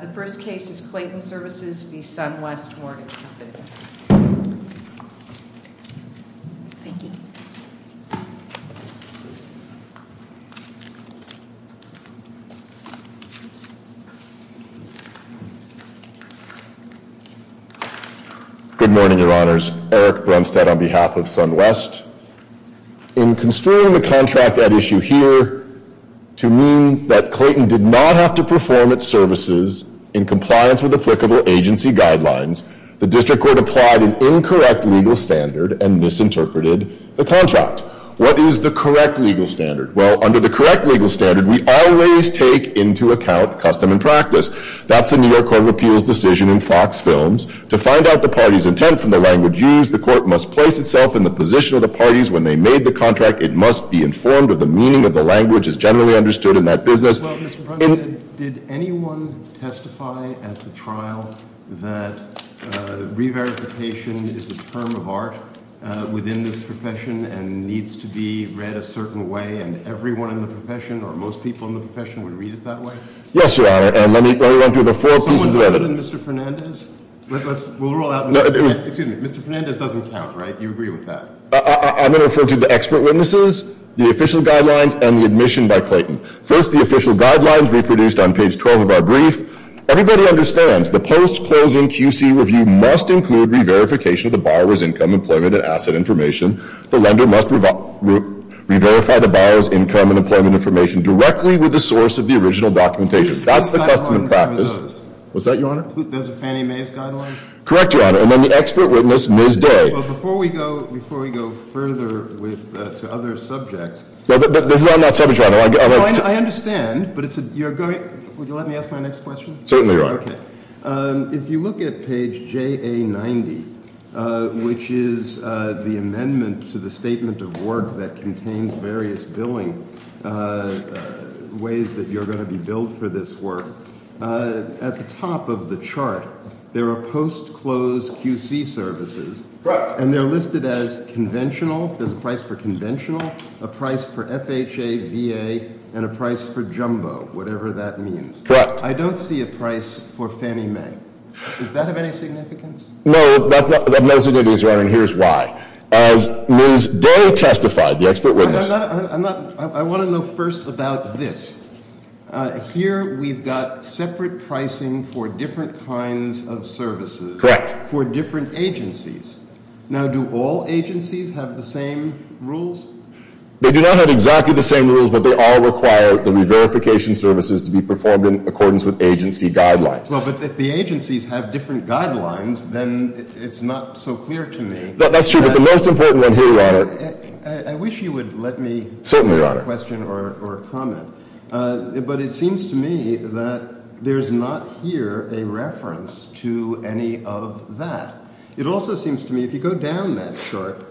The first case is Clayton Services v. Sun West Mortgage Company. Thank you. Good morning, Your Honors. Eric Brunstad on behalf of Sun West. In construing the contract at issue here to mean that Clayton did not have to perform its services in compliance with applicable agency guidelines, the district court applied an incorrect legal standard and misinterpreted the contract. What is the correct legal standard? Well, under the correct legal standard, we always take into account custom and practice. That's the New York Court of Appeals decision in Fox Films. To find out the party's intent from the language used, the court must place itself in the position of the parties when they made the contract. It must be informed of the meaning of the language as generally understood in that business. Well, Mr. Brunstad, did anyone testify at the trial that re-verification is a term of art within this profession and needs to be read a certain way, and everyone in the profession or most people in the profession would read it that way? Yes, Your Honor, and let me run through the four pieces of evidence. Excuse me, Mr. Fernandez doesn't count, right? You agree with that? I'm going to refer to the expert witnesses, the official guidelines, and the admission by Clayton. First, the official guidelines reproduced on page 12 of our brief. Everybody understands the post-closing QC review must include re-verification of the borrower's income, employment, and asset information. The lender must re-verify the borrower's income and employment information directly with the source of the original documentation. That's the custom and practice. What's that, Your Honor? There's a Fannie Mae's guideline? Correct, Your Honor. And then the expert witness, Ms. Day. Before we go further to other subjects. This is on that subject, Your Honor. I understand, but it's a, you're going, would you let me ask my next question? Certainly, Your Honor. Okay. If you look at page JA90, which is the amendment to the statement of work that contains various billing ways that you're going to be billed for this work, at the top of the chart, there are post-close QC services. Correct. And they're listed as conventional, there's a price for conventional, a price for FHA, VA, and a price for jumbo, whatever that means. Correct. I don't see a price for Fannie Mae. Is that of any significance? No, that's not, no significance, Your Honor, and here's why. As Ms. Day testified, the expert witness. I'm not, I want to know first about this. Here, we've got separate pricing for different kinds of services. Correct. For different agencies. Now, do all agencies have the same rules? They do not have exactly the same rules, but they all require the re-verification services to be performed in accordance with agency guidelines. Well, but if the agencies have different guidelines, then it's not so clear to me. That's true, but the most important one here, Your Honor. I wish you would let me. Certainly, Your Honor. Ask a question or comment, but it seems to me that there's not here a reference to any of that. It also seems to me, if you go down that chart,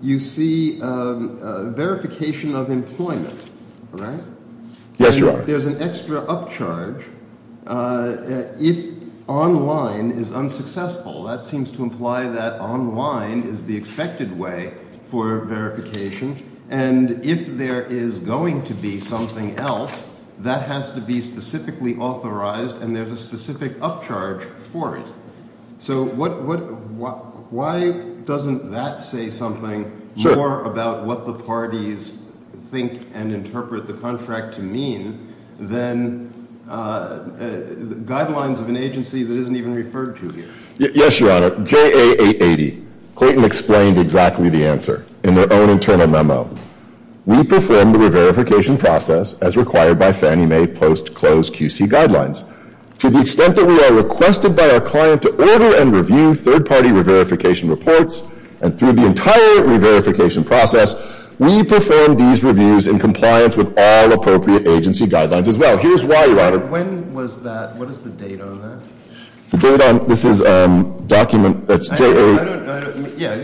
you see verification of employment, right? Yes, Your Honor. There's an extra upcharge if online is unsuccessful. That seems to imply that online is the expected way for verification, and if there is going to be something else, that has to be specifically authorized, and there's a specific upcharge for it. So why doesn't that say something more about what the parties think and interpret the contract to mean than guidelines of an agency that isn't even referred to here? Yes, Your Honor. JA 880. Clayton explained exactly the answer in their own internal memo. We perform the re-verification process as required by Fannie Mae post-closed QC guidelines. To the extent that we are requested by our client to order and review third-party re-verification reports and through the entire re-verification process, we perform these reviews in compliance with all appropriate agency guidelines as well. Here's why, Your Honor. When was that? What is the date on that? The date on it? This is a document that's JA- Yeah.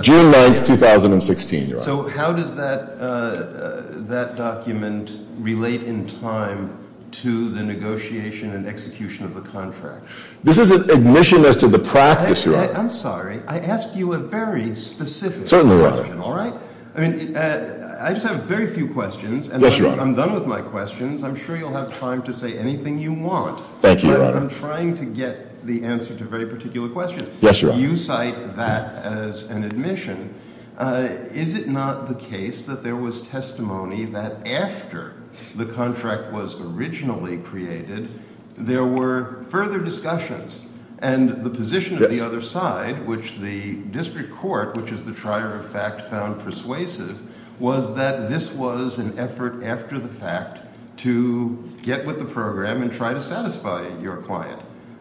June 9th, 2016, Your Honor. So how does that document relate in time to the negotiation and execution of the contract? This is an admission as to the practice, Your Honor. I'm sorry. I ask you a very specific question. Certainly, Your Honor. All right? I mean, I just have very few questions. Yes, Your Honor. And when I'm done with my questions, I'm sure you'll have time to say anything you want. Thank you, Your Honor. But I'm trying to get the answer to very particular questions. Yes, Your Honor. You cite that as an admission. Is it not the case that there was testimony that after the contract was originally created, there were further discussions? Yes. And the position of the other side, which the district court, which is the trier of fact, found persuasive, was that this was an effort after the fact to get with the program and try to satisfy your client.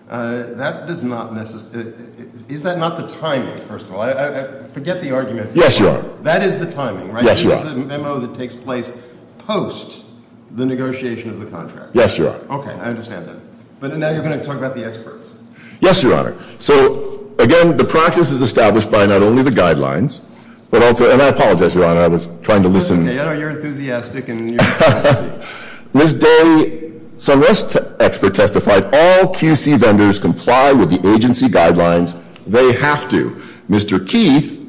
I forget the argument. Yes, Your Honor. That is the timing, right? Yes, Your Honor. This is a memo that takes place post the negotiation of the contract. Yes, Your Honor. Okay. I understand that. But now you're going to talk about the experts. Yes, Your Honor. So, again, the practice is established by not only the guidelines, but also – and I apologize, Your Honor. I was trying to listen. That's okay. I know you're enthusiastic and you're – Ms. Daly, some expert testified all QC vendors comply with the agency guidelines. They have to. Mr. Keith,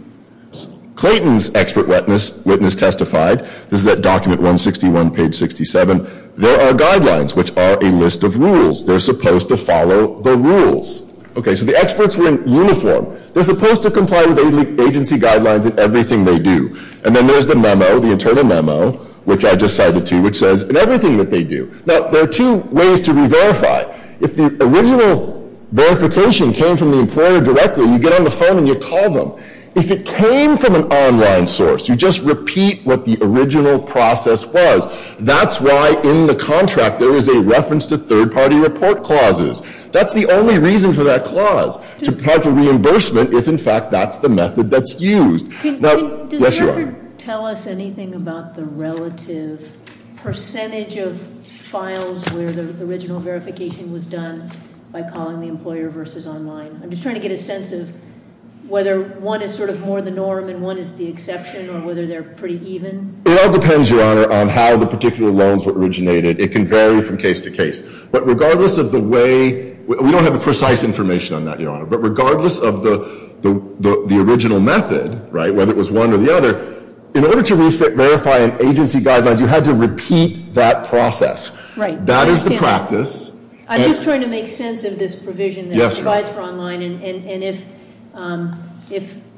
Clayton's expert witness, testified. This is at document 161, page 67. There are guidelines, which are a list of rules. They're supposed to follow the rules. Okay. So the experts were in uniform. They're supposed to comply with agency guidelines in everything they do. And then there's the memo, the internal memo, which I just cited to you, which says in everything that they do. Now, there are two ways to re-verify. If the original verification came from the employer directly, you get on the phone and you call them. If it came from an online source, you just repeat what the original process was. That's why in the contract there is a reference to third-party report clauses. That's the only reason for that clause, to provide for reimbursement if, in fact, that's the method that's used. Does the record tell us anything about the relative percentage of files where the original verification was done by calling the employer versus online? I'm just trying to get a sense of whether one is sort of more the norm and one is the exception, or whether they're pretty even. It all depends, Your Honor, on how the particular loans were originated. It can vary from case to case. But regardless of the way, we don't have precise information on that, Your Honor. But regardless of the original method, right, whether it was one or the other, in order to re-verify an agency guideline, you had to repeat that process. That is the practice. I'm just trying to make sense of this provision that provides for online. And if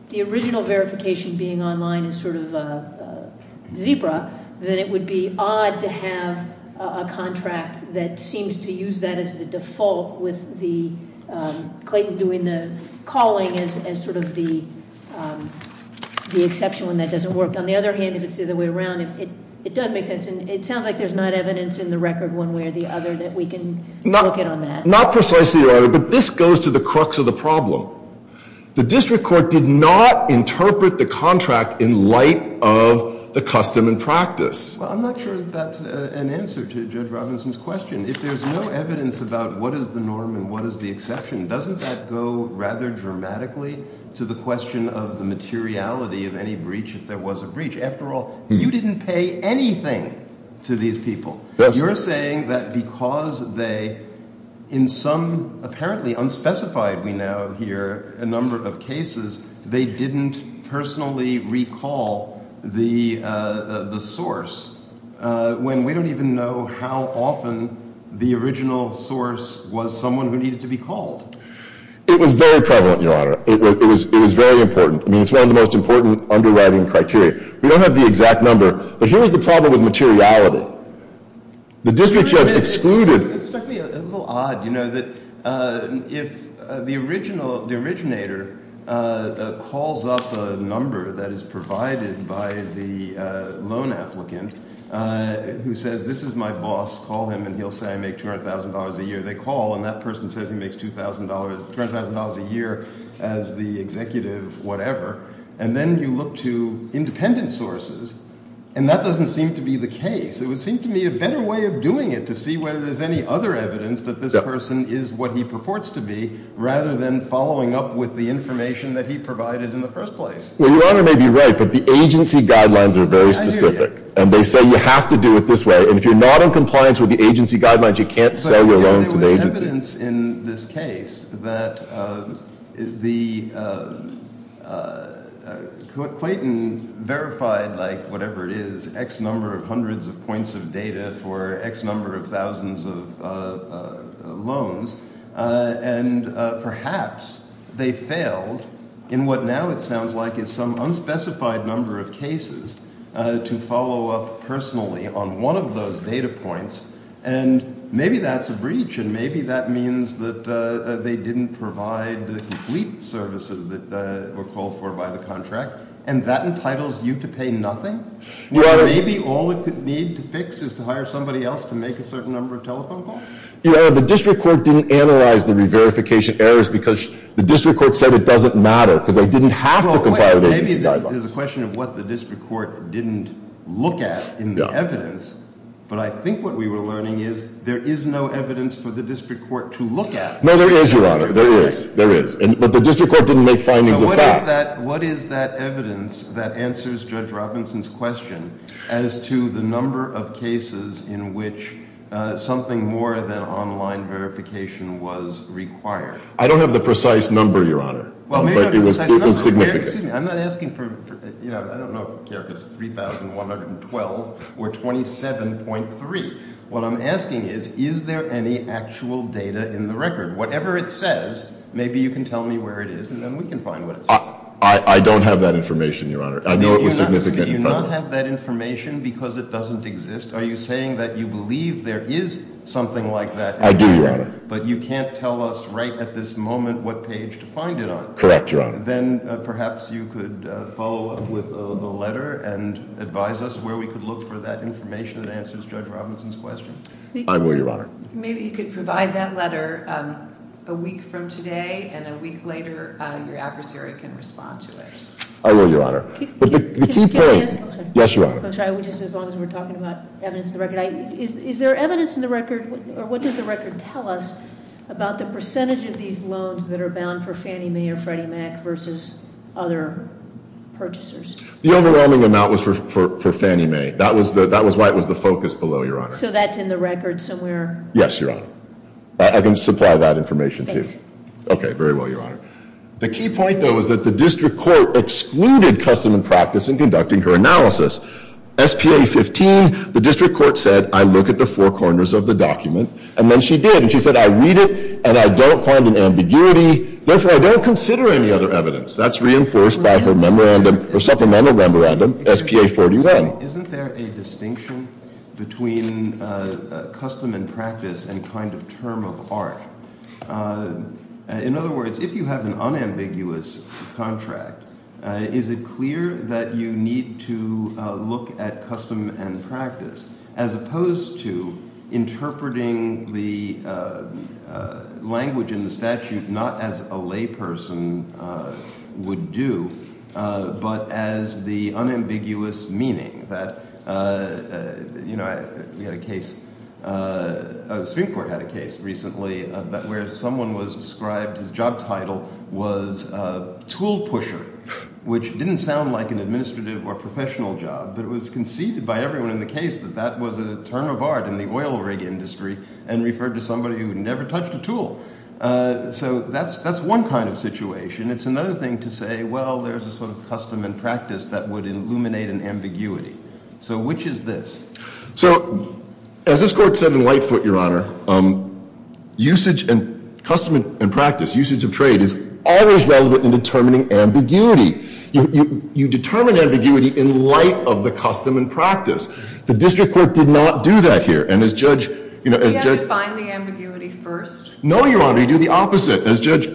the original verification being online is sort of a zebra, then it would be odd to have a contract that seems to use that as the default with Clayton doing the calling as sort of the exception when that doesn't work. On the other hand, if it's the other way around, it does make sense. And it sounds like there's not evidence in the record one way or the other that we can look at on that. Not precisely, Your Honor, but this goes to the crux of the problem. The district court did not interpret the contract in light of the custom and practice. Well, I'm not sure that's an answer to Judge Robinson's question. If there's no evidence about what is the norm and what is the exception, doesn't that go rather dramatically to the question of the materiality of any breach if there was a breach? After all, you didn't pay anything to these people. Yes. You're saying that because they, in some apparently unspecified, we now hear, a number of cases, they didn't personally recall the source when we don't even know how often the original source was someone who needed to be called. It was very prevalent, Your Honor. It was very important. I mean, it's one of the most important underwriting criteria. We don't have the exact number, but here's the problem with materiality. The district judge excluded— It struck me a little odd, you know, that if the originator calls up a number that is provided by the loan applicant who says, this is my boss, call him, and he'll say I make $200,000 a year. They call, and that person says he makes $200,000 a year as the executive whatever. And then you look to independent sources, and that doesn't seem to be the case. It would seem to me a better way of doing it, to see whether there's any other evidence that this person is what he purports to be, rather than following up with the information that he provided in the first place. Well, Your Honor may be right, but the agency guidelines are very specific. I hear you. And they say you have to do it this way, and if you're not in compliance with the agency guidelines, you can't sell your loans to the agency. There's evidence in this case that the—Clayton verified, like, whatever it is, X number of hundreds of points of data for X number of thousands of loans. And perhaps they failed in what now it sounds like is some unspecified number of cases to follow up personally on one of those data points. And maybe that's a breach, and maybe that means that they didn't provide the complete services that were called for by the contract, and that entitles you to pay nothing? Your Honor— Maybe all it would need to fix is to hire somebody else to make a certain number of telephone calls? Your Honor, the district court didn't analyze the re-verification errors because the district court said it doesn't matter because they didn't have to comply with agency guidelines. Well, there's a question of what the district court didn't look at in the evidence, but I think what we were learning is there is no evidence for the district court to look at. No, there is, Your Honor. There is. There is. But the district court didn't make findings of fact. So what is that evidence that answers Judge Robinson's question as to the number of cases in which something more than online verification was required? I don't have the precise number, Your Honor, but it was significant. Excuse me. I'm not asking for—I don't know if it's 3,112 or 27.3. What I'm asking is, is there any actual data in the record? Whatever it says, maybe you can tell me where it is, and then we can find what it says. I don't have that information, Your Honor. I know it was significant in part— Do you not have that information because it doesn't exist? Are you saying that you believe there is something like that? I do, Your Honor. But you can't tell us right at this moment what page to find it on. Correct, Your Honor. Then perhaps you could follow up with a letter and advise us where we could look for that information that answers Judge Robinson's question. I will, Your Honor. Maybe you could provide that letter a week from today, and a week later, your adversary can respond to it. I will, Your Honor. But the key point— Can I ask a question? Yes, Your Honor. Just as long as we're talking about evidence in the record. Is there evidence in the record, or what does the record tell us about the percentage of these loans that are bound for Fannie Mae or Freddie Mac versus other purchasers? The overwhelming amount was for Fannie Mae. That was why it was the focus below, Your Honor. So that's in the record somewhere? Yes, Your Honor. I can supply that information to you. Thanks. Okay, very well, Your Honor. The key point, though, is that the district court excluded custom and practice in conducting her analysis. S.P.A. 15, the district court said, I look at the four corners of the document. And then she did, and she said, I read it, and I don't find an ambiguity. Therefore, I don't consider any other evidence. That's reinforced by her memorandum, her supplemental memorandum, S.P.A. 41. Isn't there a distinction between custom and practice and kind of term of art? In other words, if you have an unambiguous contract, is it clear that you need to look at custom and practice as opposed to interpreting the language in the statute not as a layperson would do, but as the unambiguous meaning? You know, we had a case, the Supreme Court had a case recently where someone was described, his job title was tool pusher, which didn't sound like an administrative or professional job. But it was conceded by everyone in the case that that was a term of art in the oil rig industry and referred to somebody who never touched a tool. So that's one kind of situation. It's another thing to say, well, there's a sort of custom and practice that would illuminate an ambiguity. So which is this? So as this court said in Lightfoot, Your Honor, usage and custom and practice, usage of trade, is always relevant in determining ambiguity. You determine ambiguity in light of the custom and practice. The district court did not do that here. And as Judge— Did you have to define the ambiguity first? No, Your Honor. You do the opposite. As Judge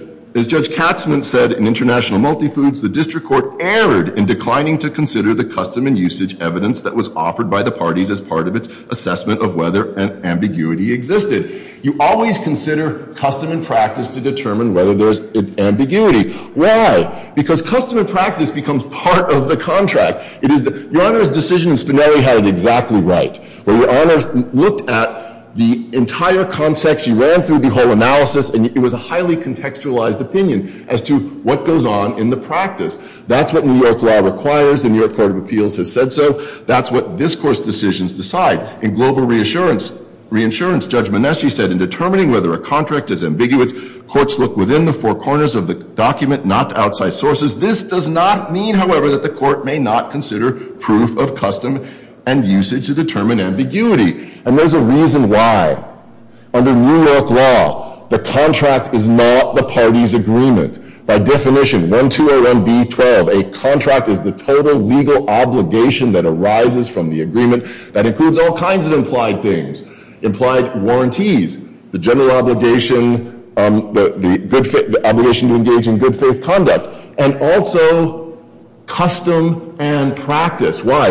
Katzmann said in International Multifoods, the district court erred in declining to consider the custom and usage evidence that was offered by the parties as part of its assessment of whether an ambiguity existed. You always consider custom and practice to determine whether there's an ambiguity. Why? Because custom and practice becomes part of the contract. Your Honor's decision in Spinelli had it exactly right. Your Honor looked at the entire context. You ran through the whole analysis. And it was a highly contextualized opinion as to what goes on in the practice. That's what New York law requires. The New York Court of Appeals has said so. That's what this Court's decisions decide. In Global Reassurance, Judge Maneschi said, In determining whether a contract is ambiguous, courts look within the four corners of the document, not to outside sources. This does not mean, however, that the court may not consider proof of custom and usage to determine ambiguity. And there's a reason why. Under New York law, the contract is not the party's agreement. By definition, 1201B.12, a contract is the total legal obligation that arises from the agreement. That includes all kinds of implied things. Implied warranties, the general obligation, the obligation to engage in good faith conduct. And also, custom and practice. Why?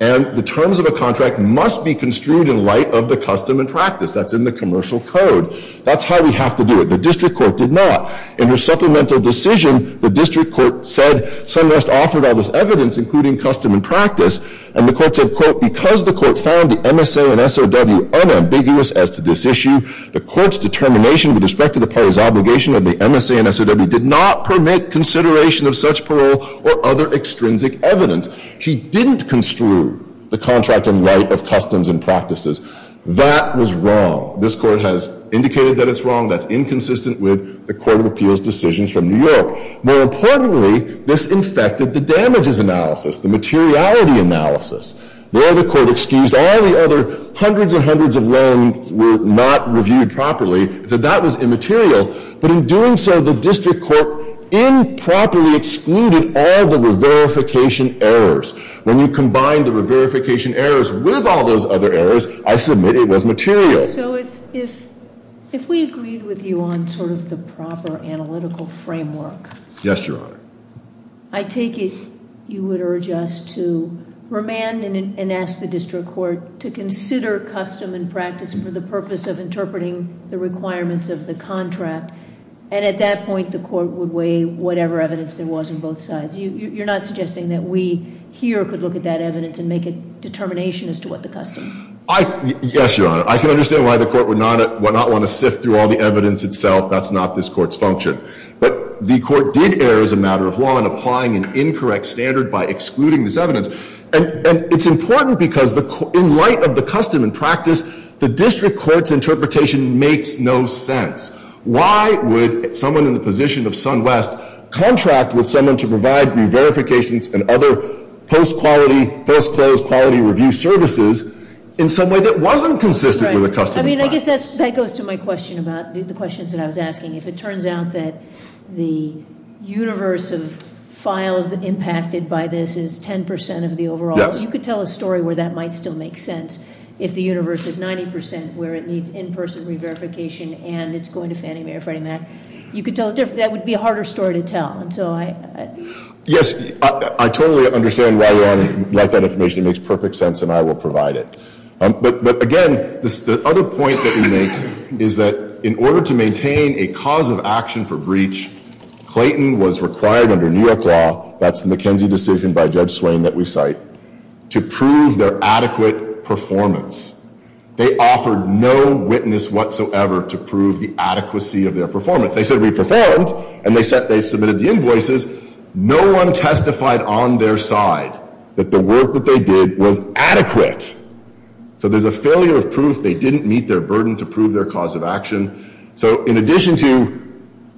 And the terms of a contract must be construed in light of the custom and practice. That's in the commercial code. That's how we have to do it. The district court did not. In her supplemental decision, the district court said, Sunrest offered all this evidence, including custom and practice. And the court said, Because the court found the MSA and SOW unambiguous as to this issue, the court's determination with respect to the party's obligation of the MSA and SOW did not permit consideration of such parole or other extrinsic evidence. She didn't construe the contract in light of customs and practices. That was wrong. This court has indicated that it's wrong. That's inconsistent with the Court of Appeals decisions from New York. More importantly, this infected the damages analysis, the materiality analysis. There, the court excused all the other hundreds and hundreds of loans were not reviewed properly. It said that was immaterial. But in doing so, the district court improperly excluded all the re-verification errors. When you combine the re-verification errors with all those other errors, I submit it was material. So if we agreed with you on sort of the proper analytical framework- Yes, Your Honor. I take it you would urge us to remand and ask the district court to consider custom and practice for the purpose of interpreting the requirements of the contract. And at that point, the court would weigh whatever evidence there was on both sides. You're not suggesting that we here could look at that evidence and make a determination as to what the custom? Yes, Your Honor. I can understand why the court would not want to sift through all the evidence itself. That's not this court's function. But the court did err as a matter of law in applying an incorrect standard by excluding this evidence. And it's important because in light of the custom and practice, the district court's interpretation makes no sense. Why would someone in the position of SunWest contract with someone to provide re-verifications and other post-quality, post-closed quality review services in some way that wasn't consistent with the custom? That's right. I mean, I guess that goes to my question about the questions that I was asking. If it turns out that the universe of files impacted by this is 10% of the overall- Yes. You could tell a story where that might still make sense if the universe is 90% where it needs in-person re-verification and it's going to Fannie Mae or Freddie Mac. You could tell a different, that would be a harder story to tell. And so I- Yes, I totally understand why you want to write that information. It makes perfect sense and I will provide it. But again, the other point that we make is that in order to maintain a cause of action for breach, Clayton was required under New York law, that's the McKenzie decision by Judge Swain that we cite, to prove their adequate performance. They offered no witness whatsoever to prove the adequacy of their performance. They said we performed and they submitted the invoices. No one testified on their side that the work that they did was adequate. So there's a failure of proof. They didn't meet their burden to prove their cause of action. So in addition to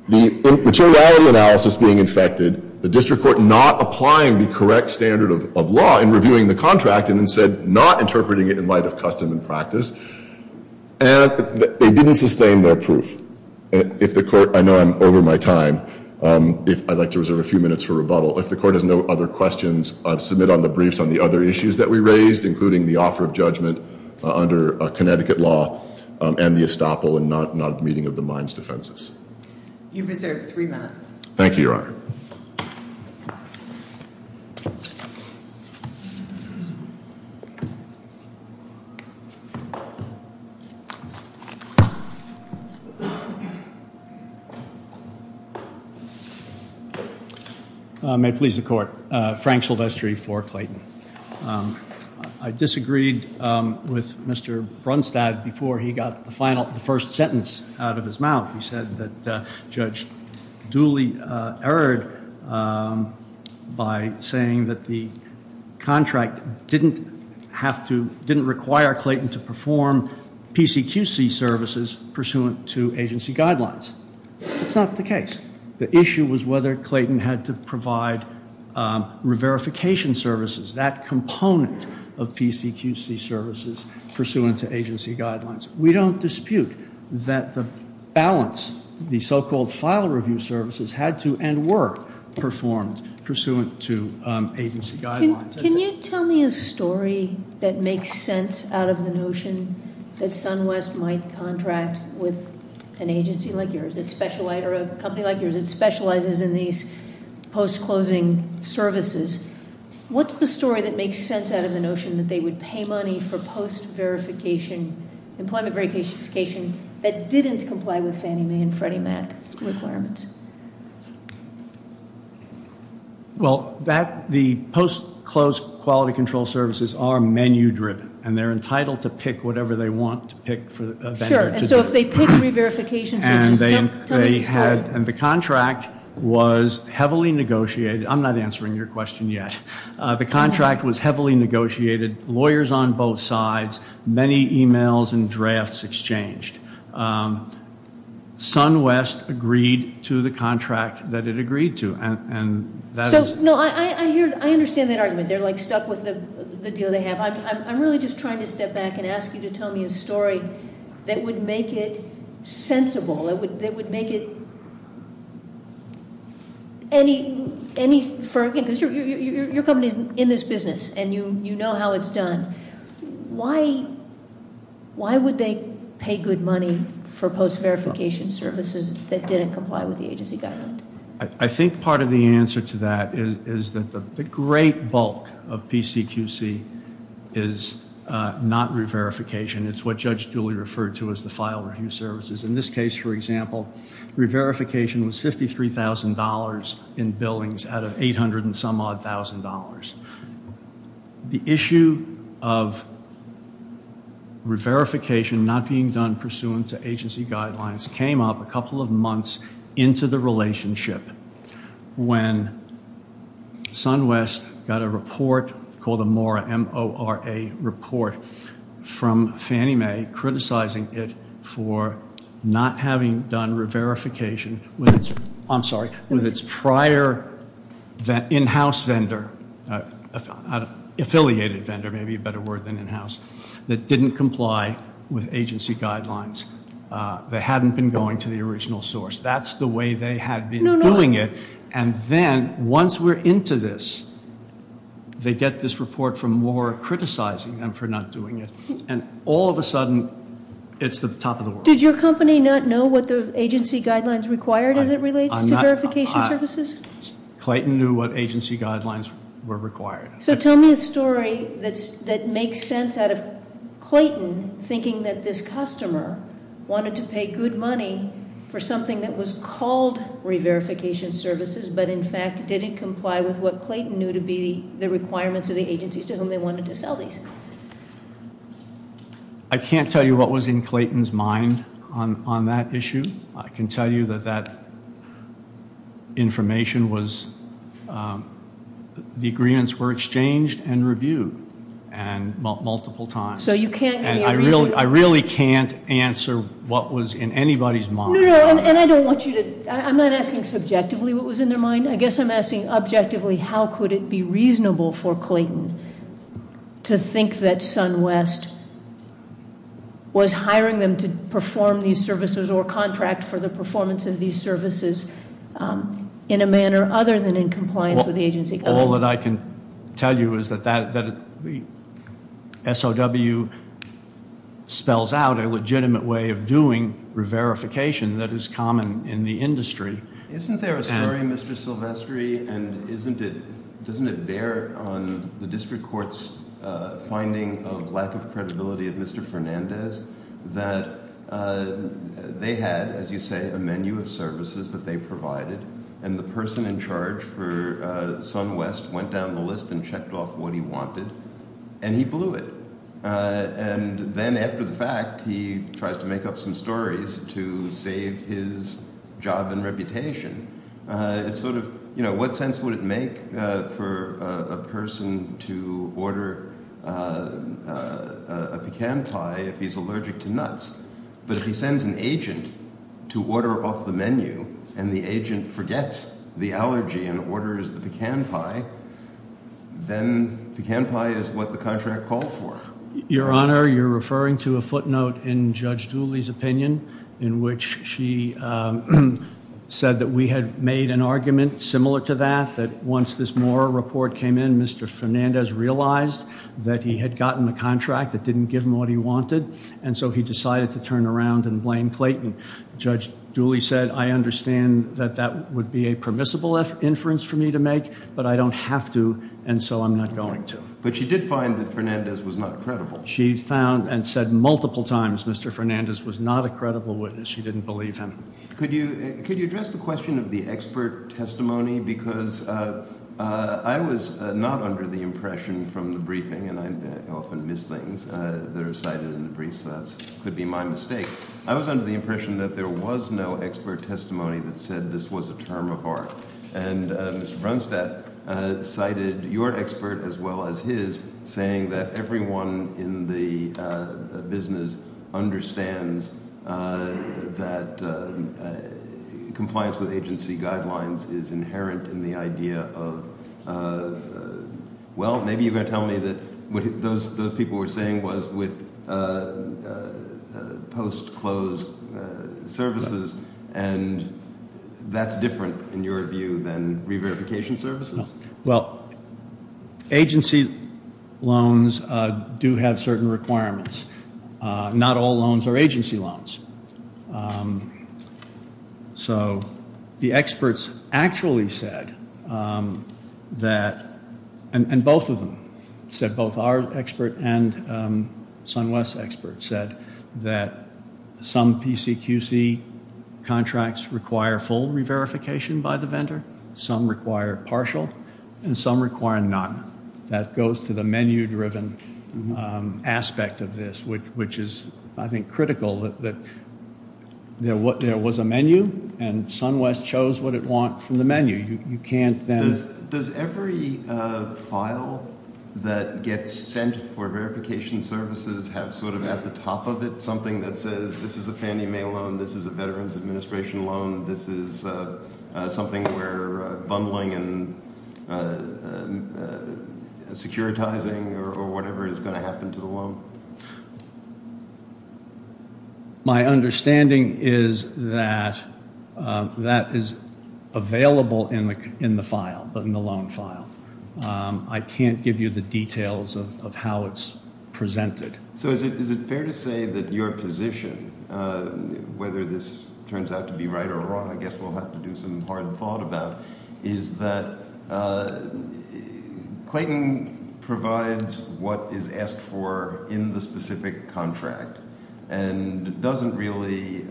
the materiality analysis being infected, the district court not applying the correct standard of law in reviewing the contract and then said not interpreting it in light of custom and practice. And they didn't sustain their proof. If the court- I know I'm over my time. I'd like to reserve a few minutes for rebuttal. If the court has no other questions, submit on the briefs on the other issues that we raised, including the offer of judgment under Connecticut law and the estoppel and not meeting of the mines defenses. You've reserved three minutes. Thank you, Your Honor. Thank you. May it please the court. Frank Silvestri for Clayton. I disagreed with Mr. Brunstad before he got the first sentence out of his mouth. He said that Judge Dooley erred by saying that the contract didn't have to- didn't require Clayton to perform PCQC services pursuant to agency guidelines. That's not the case. The issue was whether Clayton had to provide re-verification services, that component of PCQC services pursuant to agency guidelines. We don't dispute that the balance, the so-called file review services, had to and were performed pursuant to agency guidelines. Can you tell me a story that makes sense out of the notion that SunWest might contract with an agency like yours, or a company like yours that specializes in these post-closing services? What's the story that makes sense out of the notion that they would pay money for post-verification, employment verification that didn't comply with Fannie Mae and Freddie Mac requirements? Well, that- the post-closed quality control services are menu-driven, and they're entitled to pick whatever they want to pick for- Sure, and so if they pick re-verification services- And they had- and the contract was heavily negotiated. I'm not answering your question yet. The contract was heavily negotiated, lawyers on both sides, many e-mails and drafts exchanged. SunWest agreed to the contract that it agreed to, and that is- So, no, I hear- I understand that argument. They're, like, stuck with the deal they have. I'm really just trying to step back and ask you to tell me a story that would make it sensible, that would make it any- because your company's in this business, and you know how it's done. Why would they pay good money for post-verification services that didn't comply with the agency guidelines? I think part of the answer to that is that the great bulk of PCQC is not re-verification. It's what Judge Dooley referred to as the file review services. In this case, for example, re-verification was $53,000 in billings out of $800 and some odd thousand dollars. The issue of re-verification not being done pursuant to agency guidelines came up a couple of months into the relationship when SunWest got a report called a MORA, M-O-R-A report from Fannie Mae, criticizing it for not having done re-verification with its- I'm sorry- with its prior in-house vendor, affiliated vendor, maybe a better word than in-house, that didn't comply with agency guidelines. They hadn't been going to the original source. That's the way they had been doing it. And then, once we're into this, they get this report from MORA criticizing them for not doing it. And all of a sudden, it's the top of the world. Did your company not know what the agency guidelines required as it relates to verification services? Clayton knew what agency guidelines were required. So tell me a story that makes sense out of Clayton thinking that this customer wanted to pay good money for something that was called re-verification services, but in fact didn't comply with what Clayton knew to be the requirements of the agencies to whom they wanted to sell these. I can't tell you what was in Clayton's mind on that issue. I can tell you that that information was- the agreements were exchanged and reviewed multiple times. So you can't- And I really can't answer what was in anybody's mind. No, no, and I don't want you to- I'm not asking subjectively what was in their mind. I guess I'm asking objectively how could it be reasonable for Clayton to think that SunWest was hiring them to perform these services or contract for the performance of these services in a manner other than in compliance with the agency guidelines. All that I can tell you is that the SOW spells out a legitimate way of doing re-verification that is common in the industry. Isn't there a story, Mr. Silvestri, and doesn't it bear on the district court's finding of lack of credibility of Mr. Fernandez that they had, as you say, a menu of services that they provided and the person in charge for SunWest went down the list and checked off what he wanted and he blew it. And then after the fact, he tries to make up some stories to save his job and reputation. It's sort of, you know, what sense would it make for a person to order a pecan pie if he's allergic to nuts? But if he sends an agent to order off the menu and the agent forgets the allergy and orders the pecan pie, then pecan pie is what the contract called for. Your Honor, you're referring to a footnote in Judge Dooley's opinion in which she said that we had made an argument similar to that, that once this Mora report came in, Mr. Fernandez realized that he had gotten a contract that didn't give him what he wanted, and so he decided to turn around and blame Clayton. Judge Dooley said, I understand that that would be a permissible inference for me to make, but I don't have to, and so I'm not going to. But she did find that Fernandez was not credible. She found and said multiple times Mr. Fernandez was not a credible witness. She didn't believe him. Could you address the question of the expert testimony? Because I was not under the impression from the briefing, and I often miss things that are cited in the brief, so that could be my mistake. I was under the impression that there was no expert testimony that said this was a term of art. And Mr. Brunstad cited your expert as well as his saying that everyone in the business understands that compliance with agency guidelines is inherent in the idea of, well, maybe you're going to tell me that what those people were saying was with post-close services, and that's different in your view than re-verification services? Well, agency loans do have certain requirements. Not all loans are agency loans. So the experts actually said that, and both of them said, both our expert and SunWest's expert said that some PCQC contracts require full re-verification by the vendor, some require partial, and some require none. That goes to the menu-driven aspect of this, which is, I think, critical that there was a menu, and SunWest chose what it wanted from the menu. Does every file that gets sent for verification services have sort of at the top of it something that says, this is a Fannie Mae loan, this is a Veterans Administration loan, this is something we're bundling and securitizing or whatever is going to happen to the loan? My understanding is that that is available in the file, in the loan file. I can't give you the details of how it's presented. So is it fair to say that your position, whether this turns out to be right or wrong, I guess we'll have to do some hard thought about, is that Clayton provides what is asked for in the specific contract and doesn't really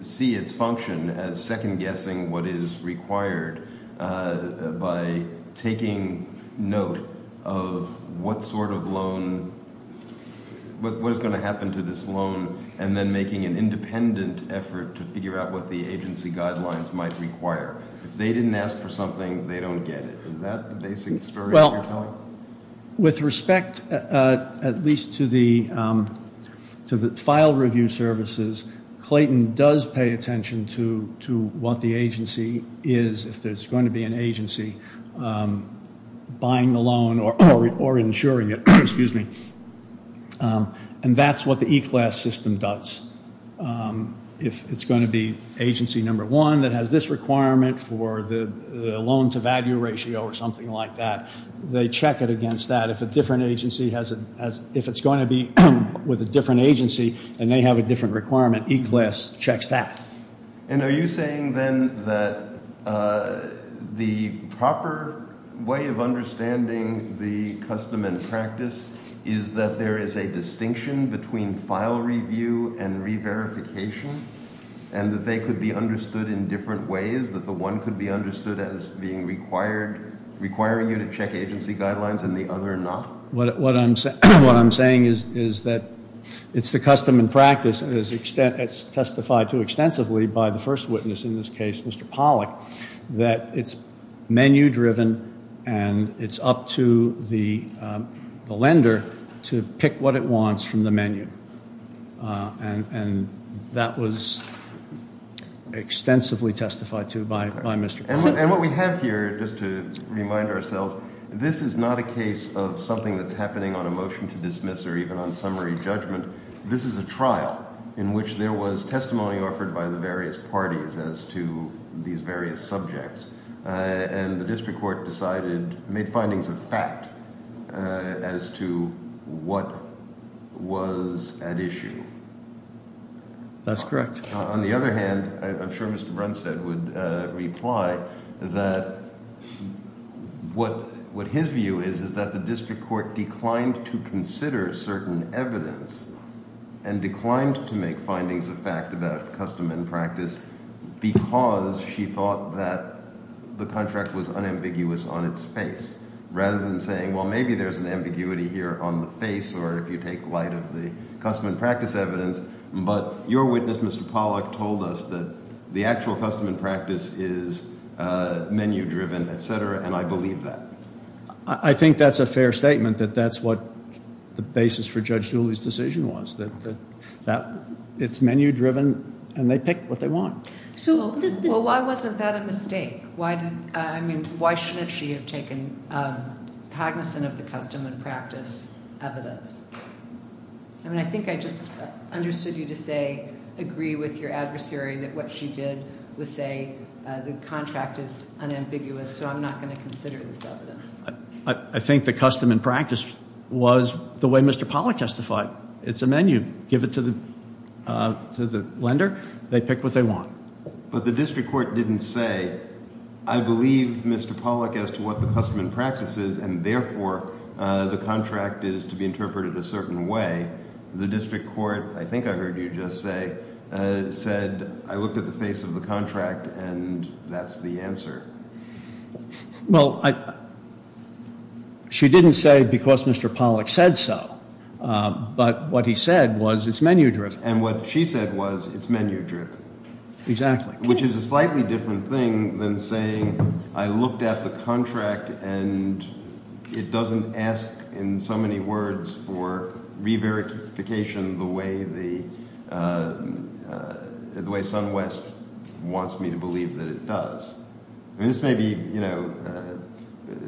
see its function as second-guessing what is required by taking note of what sort of loan, what is going to happen to this loan, and then making an independent effort to figure out what the agency guidelines might require. If they didn't ask for something, they don't get it. Is that the basic story that you're telling? Well, with respect at least to the file review services, Clayton does pay attention to what the agency is, if there's going to be an agency buying the loan or insuring it. And that's what the E-Class system does. If it's going to be agency number one that has this requirement for the loan-to-value ratio or something like that, they check it against that. If it's going to be with a different agency and they have a different requirement, E-Class checks that. And are you saying then that the proper way of understanding the custom and practice is that there is a distinction between file review and re-verification and that they could be understood in different ways, that the one could be understood as requiring you to check agency guidelines and the other not? What I'm saying is that it's the custom and practice as testified to extensively by the first witness in this case, Mr. Pollack, that it's menu-driven and it's up to the lender to pick what it wants from the menu. And that was extensively testified to by Mr. Pollack. And what we have here, just to remind ourselves, this is not a case of something that's happening on a motion to dismiss or even on summary judgment. This is a trial in which there was testimony offered by the various parties as to these various subjects. And the district court decided, made findings of fact as to what was at issue. That's correct. On the other hand, I'm sure Mr. Brunstad would reply that what his view is, is that the district court declined to consider certain evidence and declined to make findings of fact about custom and practice because she thought that the contract was unambiguous on its face rather than saying, well, maybe there's an ambiguity here on the face or if you take light of the custom and practice evidence. But your witness, Mr. Pollack, told us that the actual custom and practice is menu-driven, et cetera, and I believe that. I think that's a fair statement, that that's what the basis for Judge Dooley's decision was, that it's menu-driven and they pick what they want. Well, why wasn't that a mistake? I mean, why shouldn't she have taken cognizant of the custom and practice evidence? I mean, I think I just understood you to say, agree with your adversary that what she did was say the contract is unambiguous, so I'm not going to consider this evidence. I think the custom and practice was the way Mr. Pollack testified. It's a menu. Give it to the lender, they pick what they want. But the district court didn't say, I believe, Mr. Pollack, as to what the custom and practice is, and therefore the contract is to be interpreted a certain way. The district court, I think I heard you just say, said, I looked at the face of the contract and that's the answer. Well, she didn't say because Mr. Pollack said so, but what he said was it's menu-driven. And what she said was it's menu-driven. Exactly. Which is a slightly different thing than saying I looked at the contract and it doesn't ask, in so many words, for re-verification the way SunWest wants me to believe that it does. This may be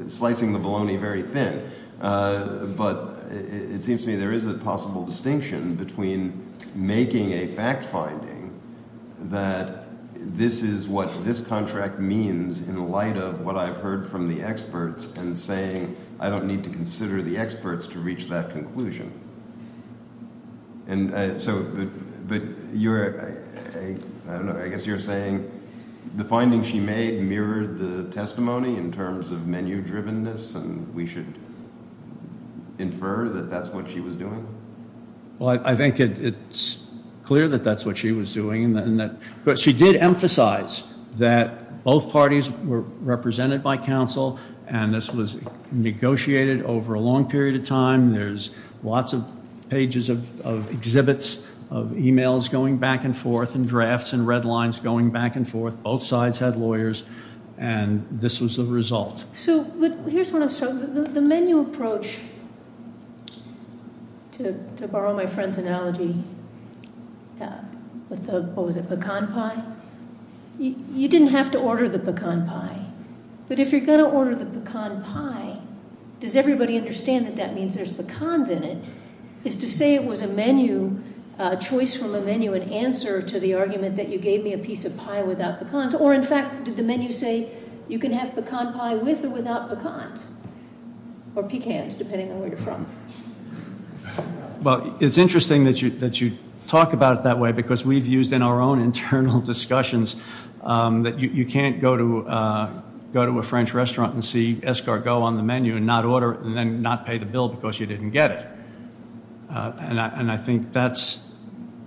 slicing the bologna very thin, but it seems to me there is a possible distinction between making a fact finding that this is what this contract means in light of what I've heard from the experts and saying I don't need to consider the experts to reach that conclusion. But I guess you're saying the findings she made mirrored the testimony in terms of menu-drivenness, and we should infer that that's what she was doing? Well, I think it's clear that that's what she was doing. But she did emphasize that both parties were represented by counsel, and this was negotiated over a long period of time. There's lots of pages of exhibits, of e-mails going back and forth, and drafts and red lines going back and forth. Both sides had lawyers, and this was the result. So here's what I'm struggling with. The menu approach, to borrow my friend's analogy, with the pecan pie, you didn't have to order the pecan pie. But if you're going to order the pecan pie, does everybody understand that that means there's pecans in it? Is to say it was a menu, a choice from a menu, an answer to the argument that you gave me a piece of pie without pecans? Or, in fact, did the menu say you can have pecan pie with or without pecans? Or pecans, depending on where you're from. Well, it's interesting that you talk about it that way, because we've used in our own internal discussions that you can't go to a French restaurant and see Escargot on the menu and not order it and then not pay the bill because you didn't get it. And I think that's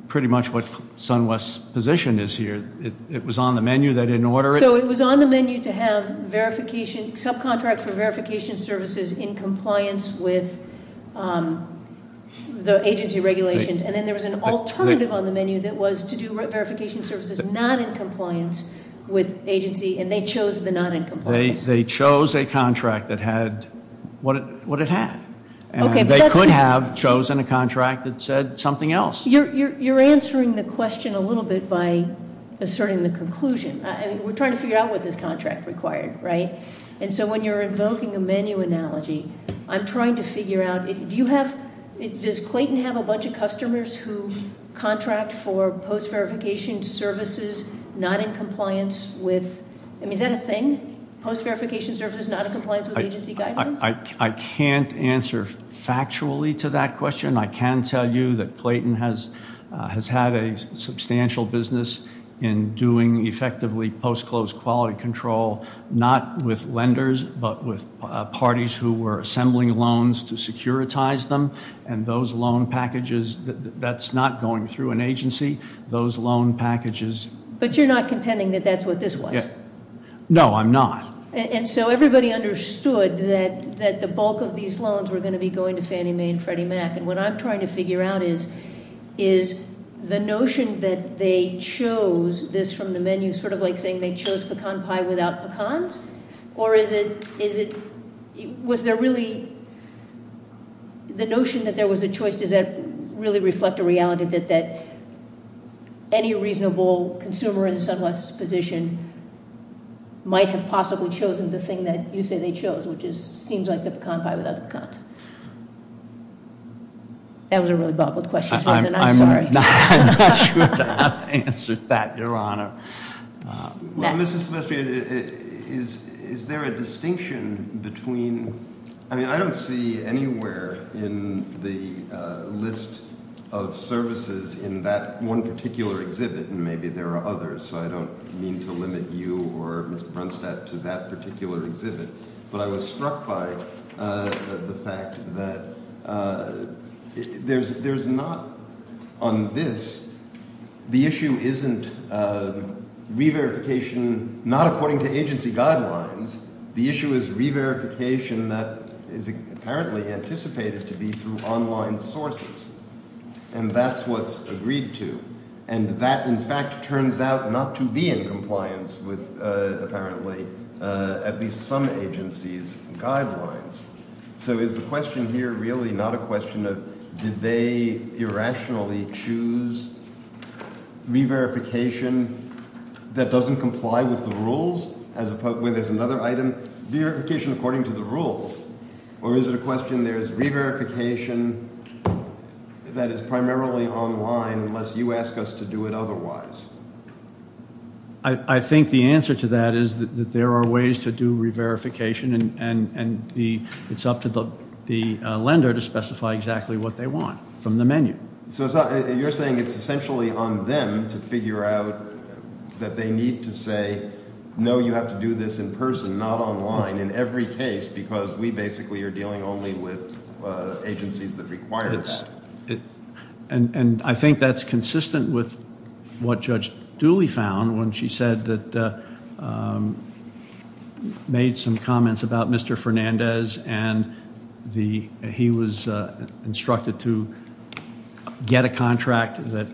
pretty much what SunWest's position is here. It was on the menu. They didn't order it. So it was on the menu to have subcontracts for verification services in compliance with the agency regulations. And then there was an alternative on the menu that was to do verification services not in compliance with agency. And they chose the not in compliance. They chose a contract that had what it had. And they could have chosen a contract that said something else. You're answering the question a little bit by asserting the conclusion. I mean, we're trying to figure out what this contract required, right? And so when you're invoking a menu analogy, I'm trying to figure out, do you have, does Clayton have a bunch of customers who contract for post-verification services not in compliance with, I mean, is that a thing? Post-verification services not in compliance with agency guidelines? I can't answer factually to that question. I can tell you that Clayton has had a substantial business in doing effectively post-closed quality control, not with lenders but with parties who were assembling loans to securitize them. And those loan packages, that's not going through an agency. Those loan packages- But you're not contending that that's what this was? No, I'm not. And so everybody understood that the bulk of these loans were going to be going to Fannie Mae and Freddie Mac. And what I'm trying to figure out is, is the notion that they chose this from the menu sort of like saying they chose pecan pie without pecans? Or is it, was there really, the notion that there was a choice, does that really reflect a reality that any reasonable consumer in SunWest's position might have possibly chosen the thing that you say they chose, which seems like the pecan pie without the pecans? That was a really bobbled question. I'm sorry. I'm not sure I answered that, Your Honor. Well, Mrs. Silvestri, is there a distinction between, I mean, I don't see anywhere in the list of services in that one particular exhibit, and maybe there are others, so I don't mean to limit you or Ms. Brunstad to that particular exhibit, but I was struck by the fact that there's not, on this, the issue isn't re-verification not according to agency guidelines. The issue is re-verification that is apparently anticipated to be through online sources. And that's what's agreed to. And that, in fact, turns out not to be in compliance with, apparently, at least some agency's guidelines. So is the question here really not a question of did they irrationally choose re-verification that doesn't comply with the rules, where there's another item, verification according to the rules? Or is it a question there's re-verification that is primarily online unless you ask us to do it otherwise? I think the answer to that is that there are ways to do re-verification, and it's up to the lender to specify exactly what they want from the menu. So you're saying it's essentially on them to figure out that they need to say, no, you have to do this in person, not online, in every case, because we basically are dealing only with agencies that require that. And I think that's consistent with what Judge Dooley found when she said that made some comments about Mr. Fernandez, and he was instructed to get a contract that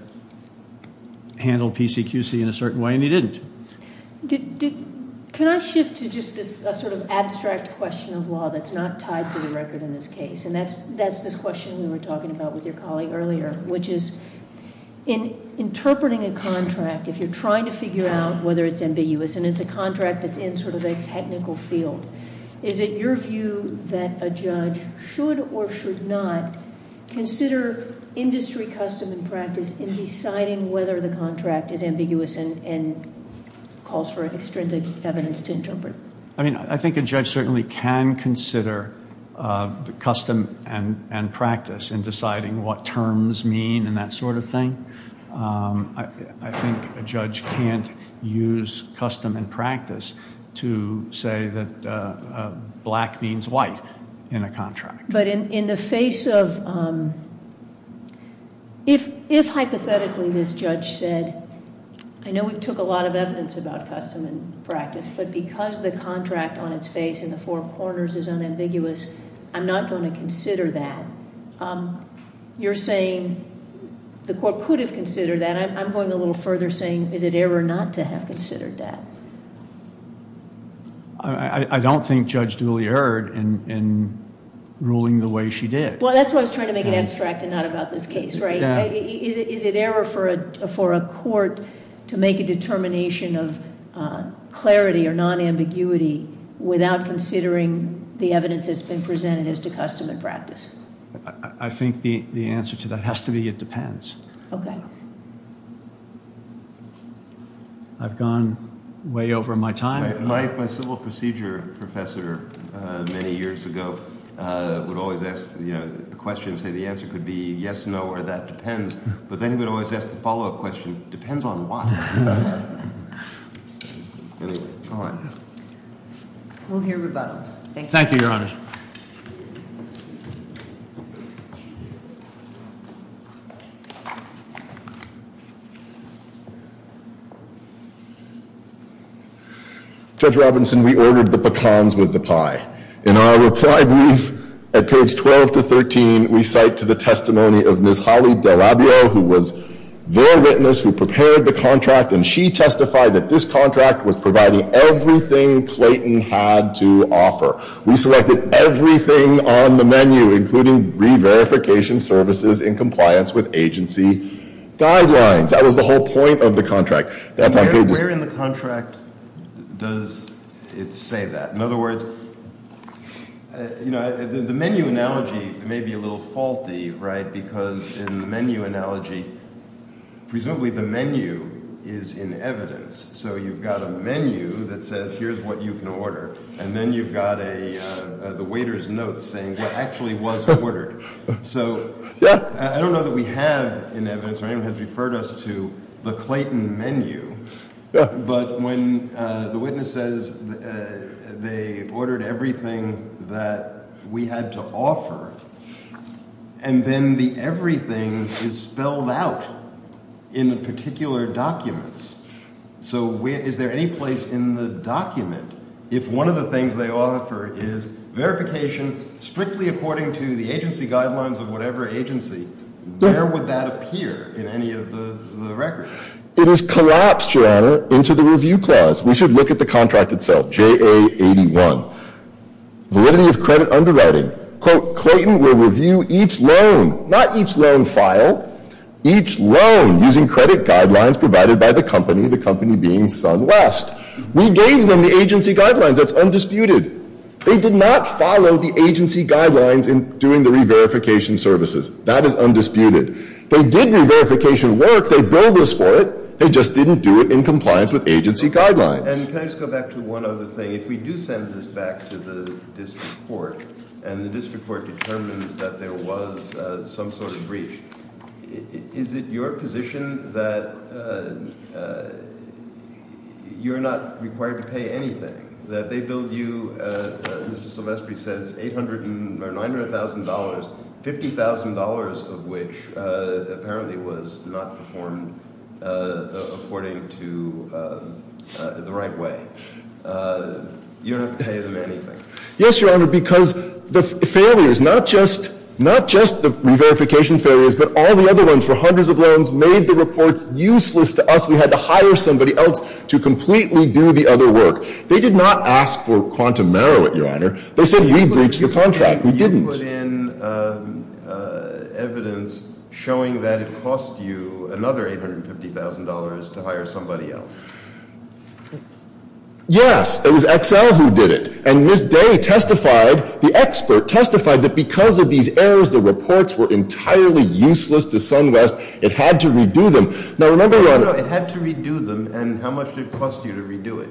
handled PCQC in a certain way, and he didn't. Can I shift to just this sort of abstract question of law that's not tied to the record in this case? And that's this question we were talking about with your colleague earlier, which is in interpreting a contract, if you're trying to figure out whether it's ambiguous, and it's a contract that's in sort of a technical field, is it your view that a judge should or should not consider industry custom and practice in deciding whether the contract is ambiguous and calls for extrinsic evidence to interpret? I mean, I think a judge certainly can consider the custom and practice in deciding what terms mean and that sort of thing. I think a judge can't use custom and practice to say that black means white in a contract. But in the face of, if hypothetically this judge said, I know we took a lot of evidence about custom and practice, but because the contract on its face in the four corners is unambiguous, I'm not going to consider that. You're saying the court could have considered that. I'm going a little further saying, is it error not to have considered that? I don't think Judge Dooley erred in ruling the way she did. Well, that's why I was trying to make it abstract and not about this case, right? Is it error for a court to make a determination of clarity or non-ambiguity without considering the evidence that's been presented as to custom and practice? I think the answer to that has to be it depends. Okay. I've gone way over my time. My civil procedure professor many years ago would always ask a question and say the answer could be yes, no, or that depends. But then he would always ask the follow-up question, depends on what? Anyway, all right. We'll hear rebuttal. Thank you. Thank you, Your Honor. Judge Robinson, we ordered the pecans with the pie. In our reply brief at page 12 to 13, we cite to the testimony of Ms. Holly Delabio, who was their witness who prepared the contract, and she testified that this contract was providing everything Clayton had to offer. We selected everything on the menu, including re-verification services in compliance with agency guidelines. That was the whole point of the contract. Where in the contract does it say that? In other words, the menu analogy may be a little faulty, right, because in the menu analogy, presumably the menu is in evidence. So you've got a menu that says here's what you can order, and then you've got the waiter's notes saying what actually was ordered. So I don't know that we have in evidence or anyone has referred us to the Clayton menu, but when the witness says they ordered everything that we had to offer and then the everything is spelled out in the particular documents, so is there any place in the document if one of the things they offer is verification, strictly according to the agency guidelines of whatever agency, where would that appear in any of the records? It is collapsed, Your Honor, into the review clause. We should look at the contract itself, JA81. Validity of credit underwriting. Quote, Clayton will review each loan, not each loan file, each loan using credit guidelines provided by the company, the company being SunWest. We gave them the agency guidelines. That's undisputed. They did not follow the agency guidelines in doing the re-verification services. That is undisputed. They did re-verification work. They billed us for it. They just didn't do it in compliance with agency guidelines. And can I just go back to one other thing? If we do send this back to the district court and the district court determines that there was some sort of breach, is it your position that you're not required to pay anything, that they billed you, as Mr. Silvestri says, $900,000, $50,000 of which apparently was not performed according to the right way? You don't have to pay them anything. Yes, Your Honor, because the failures, not just the re-verification failures, but all the other ones for hundreds of loans made the reports useless to us. We had to hire somebody else to completely do the other work. They did not ask for quantum merit, Your Honor. They said we breached the contract. We didn't. You put in evidence showing that it cost you another $850,000 to hire somebody else. Yes. It was Excel who did it. And Ms. Day testified, the expert testified, that because of these errors, the reports were entirely useless to SunWest. It had to redo them. Now, remember, Your Honor. No, no, no. It had to redo them. And how much did it cost you to redo it?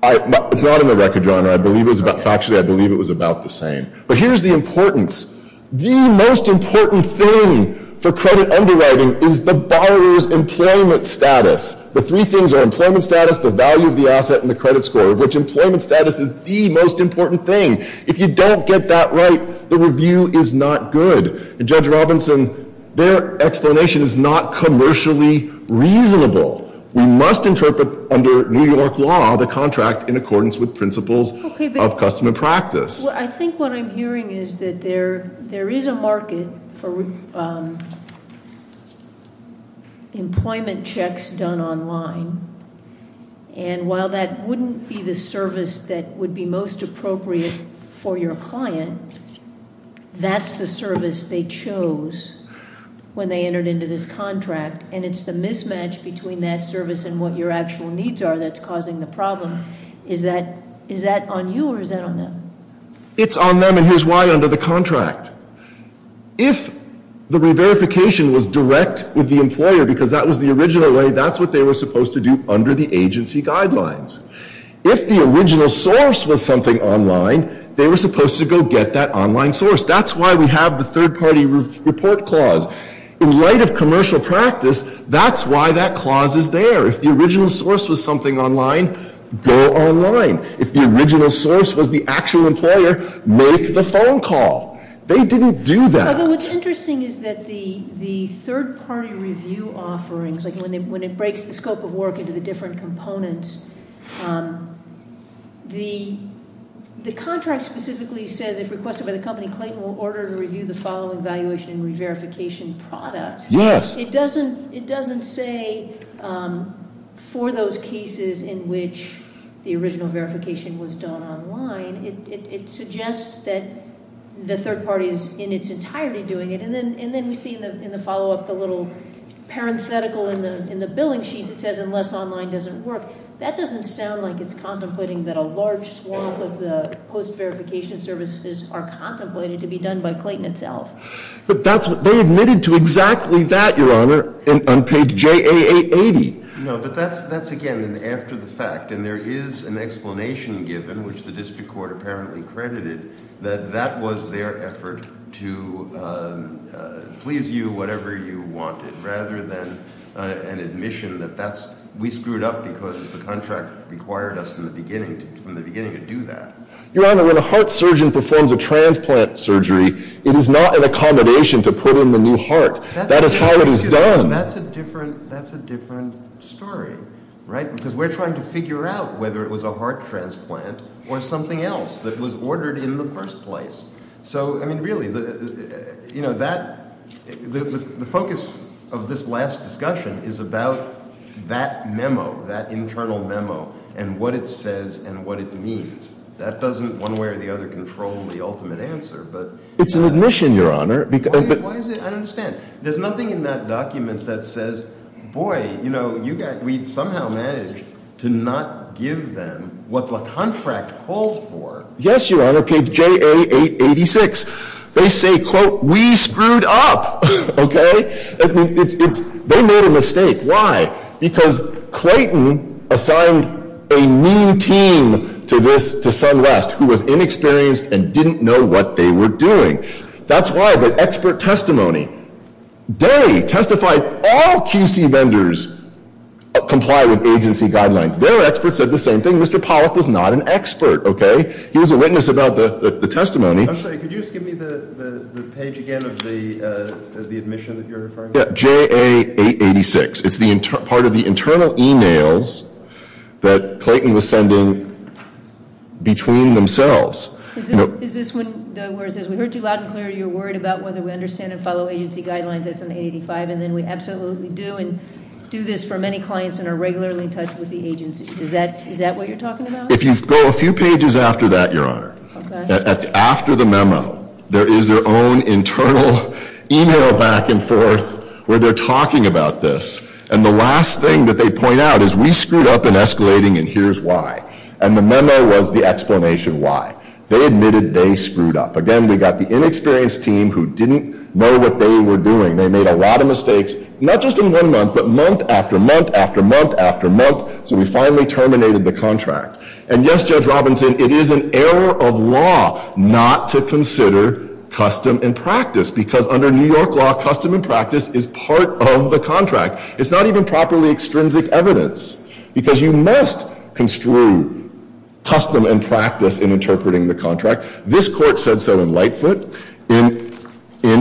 It's not in the record, Your Honor. Factually, I believe it was about the same. But here's the importance. The most important thing for credit underwriting is the borrower's employment status. The three things are employment status, the value of the asset, and the credit score, of which employment status is the most important thing. If you don't get that right, the review is not good. And, Judge Robinson, their explanation is not commercially reasonable. We must interpret, under New York law, the contract in accordance with principles of custom and practice. I think what I'm hearing is that there is a market for employment checks done online. And while that wouldn't be the service that would be most appropriate for your client, that's the service they chose when they entered into this contract. And it's the mismatch between that service and what your actual needs are that's causing the problem. Is that on you, or is that on them? It's on them, and here's why, under the contract. If the re-verification was direct with the employer because that was the original way, that's what they were supposed to do under the agency guidelines. If the original source was something online, they were supposed to go get that online source. That's why we have the third-party report clause. In light of commercial practice, that's why that clause is there. If the original source was something online, go online. If the original source was the actual employer, make the phone call. They didn't do that. Although what's interesting is that the third-party review offerings, when it breaks the scope of work into the different components, the contract specifically says if requested by the company, Clayton will order to review the following valuation and re-verification product. Yes. It doesn't say for those cases in which the original verification was done online. It suggests that the third party is in its entirety doing it. And then we see in the follow-up the little parenthetical in the billing sheet that says unless online doesn't work. That doesn't sound like it's contemplating that a large swath of the post-verification services are contemplated to be done by Clayton itself. But that's what they admitted to exactly that, Your Honor, on page JA 880. No, but that's again an after the fact. And there is an explanation given, which the district court apparently credited, that that was their effort to please you whatever you wanted, rather than an admission that we screwed up because the contract required us from the beginning to do that. Your Honor, when a heart surgeon performs a transplant surgery, it is not an accommodation to put in the new heart. That is how it is done. That's a different story, right? Because we're trying to figure out whether it was a heart transplant or something else that was ordered in the first place. So, I mean, really, the focus of this last discussion is about that memo, that internal memo, and what it says and what it means. That doesn't one way or the other control the ultimate answer, but- It's an admission, Your Honor. Why is it? I don't understand. There's nothing in that document that says, boy, we somehow managed to not give them what the contract called for. Yes, Your Honor. Page JA 886. They say, quote, we screwed up. Okay? They made a mistake. Why? Because Clayton assigned a new team to SunWest who was inexperienced and didn't know what they were doing. That's why the expert testimony, they testified all QC vendors comply with agency guidelines. Their experts said the same thing. Mr. Pollack was not an expert, okay? He was a witness about the testimony. I'm sorry. Could you just give me the page again of the admission that you're referring to? Yeah, JA 886. It's part of the internal emails that Clayton was sending between themselves. Is this where it says, we heard you loud and clear. You're worried about whether we understand and follow agency guidelines. That's on the 885. And then we absolutely do and do this for many clients and are regularly in touch with the agencies. Is that what you're talking about? If you go a few pages after that, Your Honor. Okay. After the memo, there is their own internal email back and forth where they're talking about this. And the last thing that they point out is we screwed up in escalating and here's why. And the memo was the explanation why. They admitted they screwed up. Again, we got the inexperienced team who didn't know what they were doing. They made a lot of mistakes, not just in one month, but month after month after month after month. So we finally terminated the contract. And, yes, Judge Robinson, it is an error of law not to consider custom and practice. Because under New York law, custom and practice is part of the contract. It's not even properly extrinsic evidence. Because you must construe custom and practice in interpreting the contract. This court said so in Lightfoot. In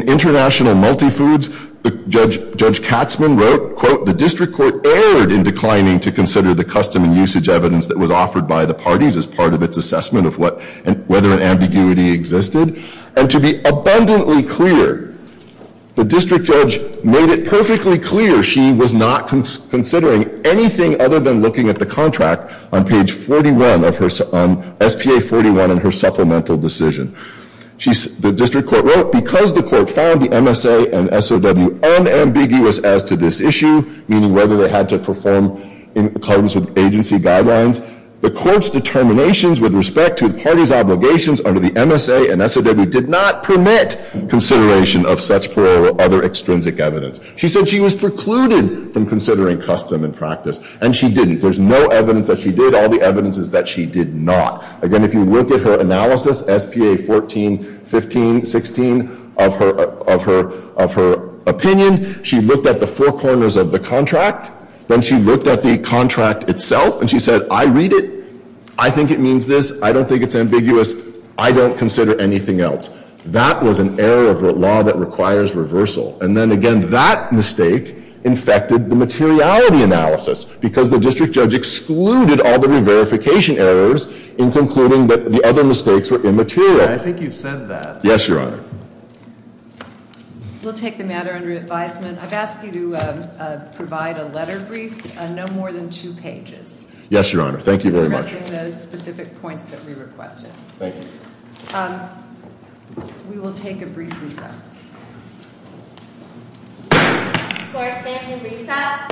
International Multifoods, Judge Katzman wrote, quote, the district court erred in declining to consider the custom and usage evidence that was offered by the parties as part of its assessment of whether an ambiguity existed. And to be abundantly clear, the district judge made it perfectly clear she was not considering anything other than looking at the contract on page 41, on SPA 41 in her supplemental decision. The district court wrote, because the court found the MSA and SOW unambiguous as to this issue, meaning whether they had to perform in accordance with agency guidelines, the court's determinations with respect to the parties' obligations under the MSA and SOW did not permit consideration of such plural or other extrinsic evidence. She said she was precluded from considering custom and practice. And she didn't. There's no evidence that she did. All the evidence is that she did not. Again, if you look at her analysis, SPA 14, 15, 16, of her opinion, she looked at the four corners of the contract. Then she looked at the contract itself, and she said, I read it. I think it means this. I don't think it's ambiguous. I don't consider anything else. That was an error of law that requires reversal. And then again, that mistake infected the materiality analysis, because the district judge excluded all the re-verification errors in concluding that the other mistakes were immaterial. I think you've said that. Yes, Your Honor. We'll take the matter under advisement. I've asked you to provide a letter brief, no more than two pages. Yes, Your Honor. Thank you very much. Addressing those specific points that we requested. Thank you. We will take a brief recess. Court is standing in recess.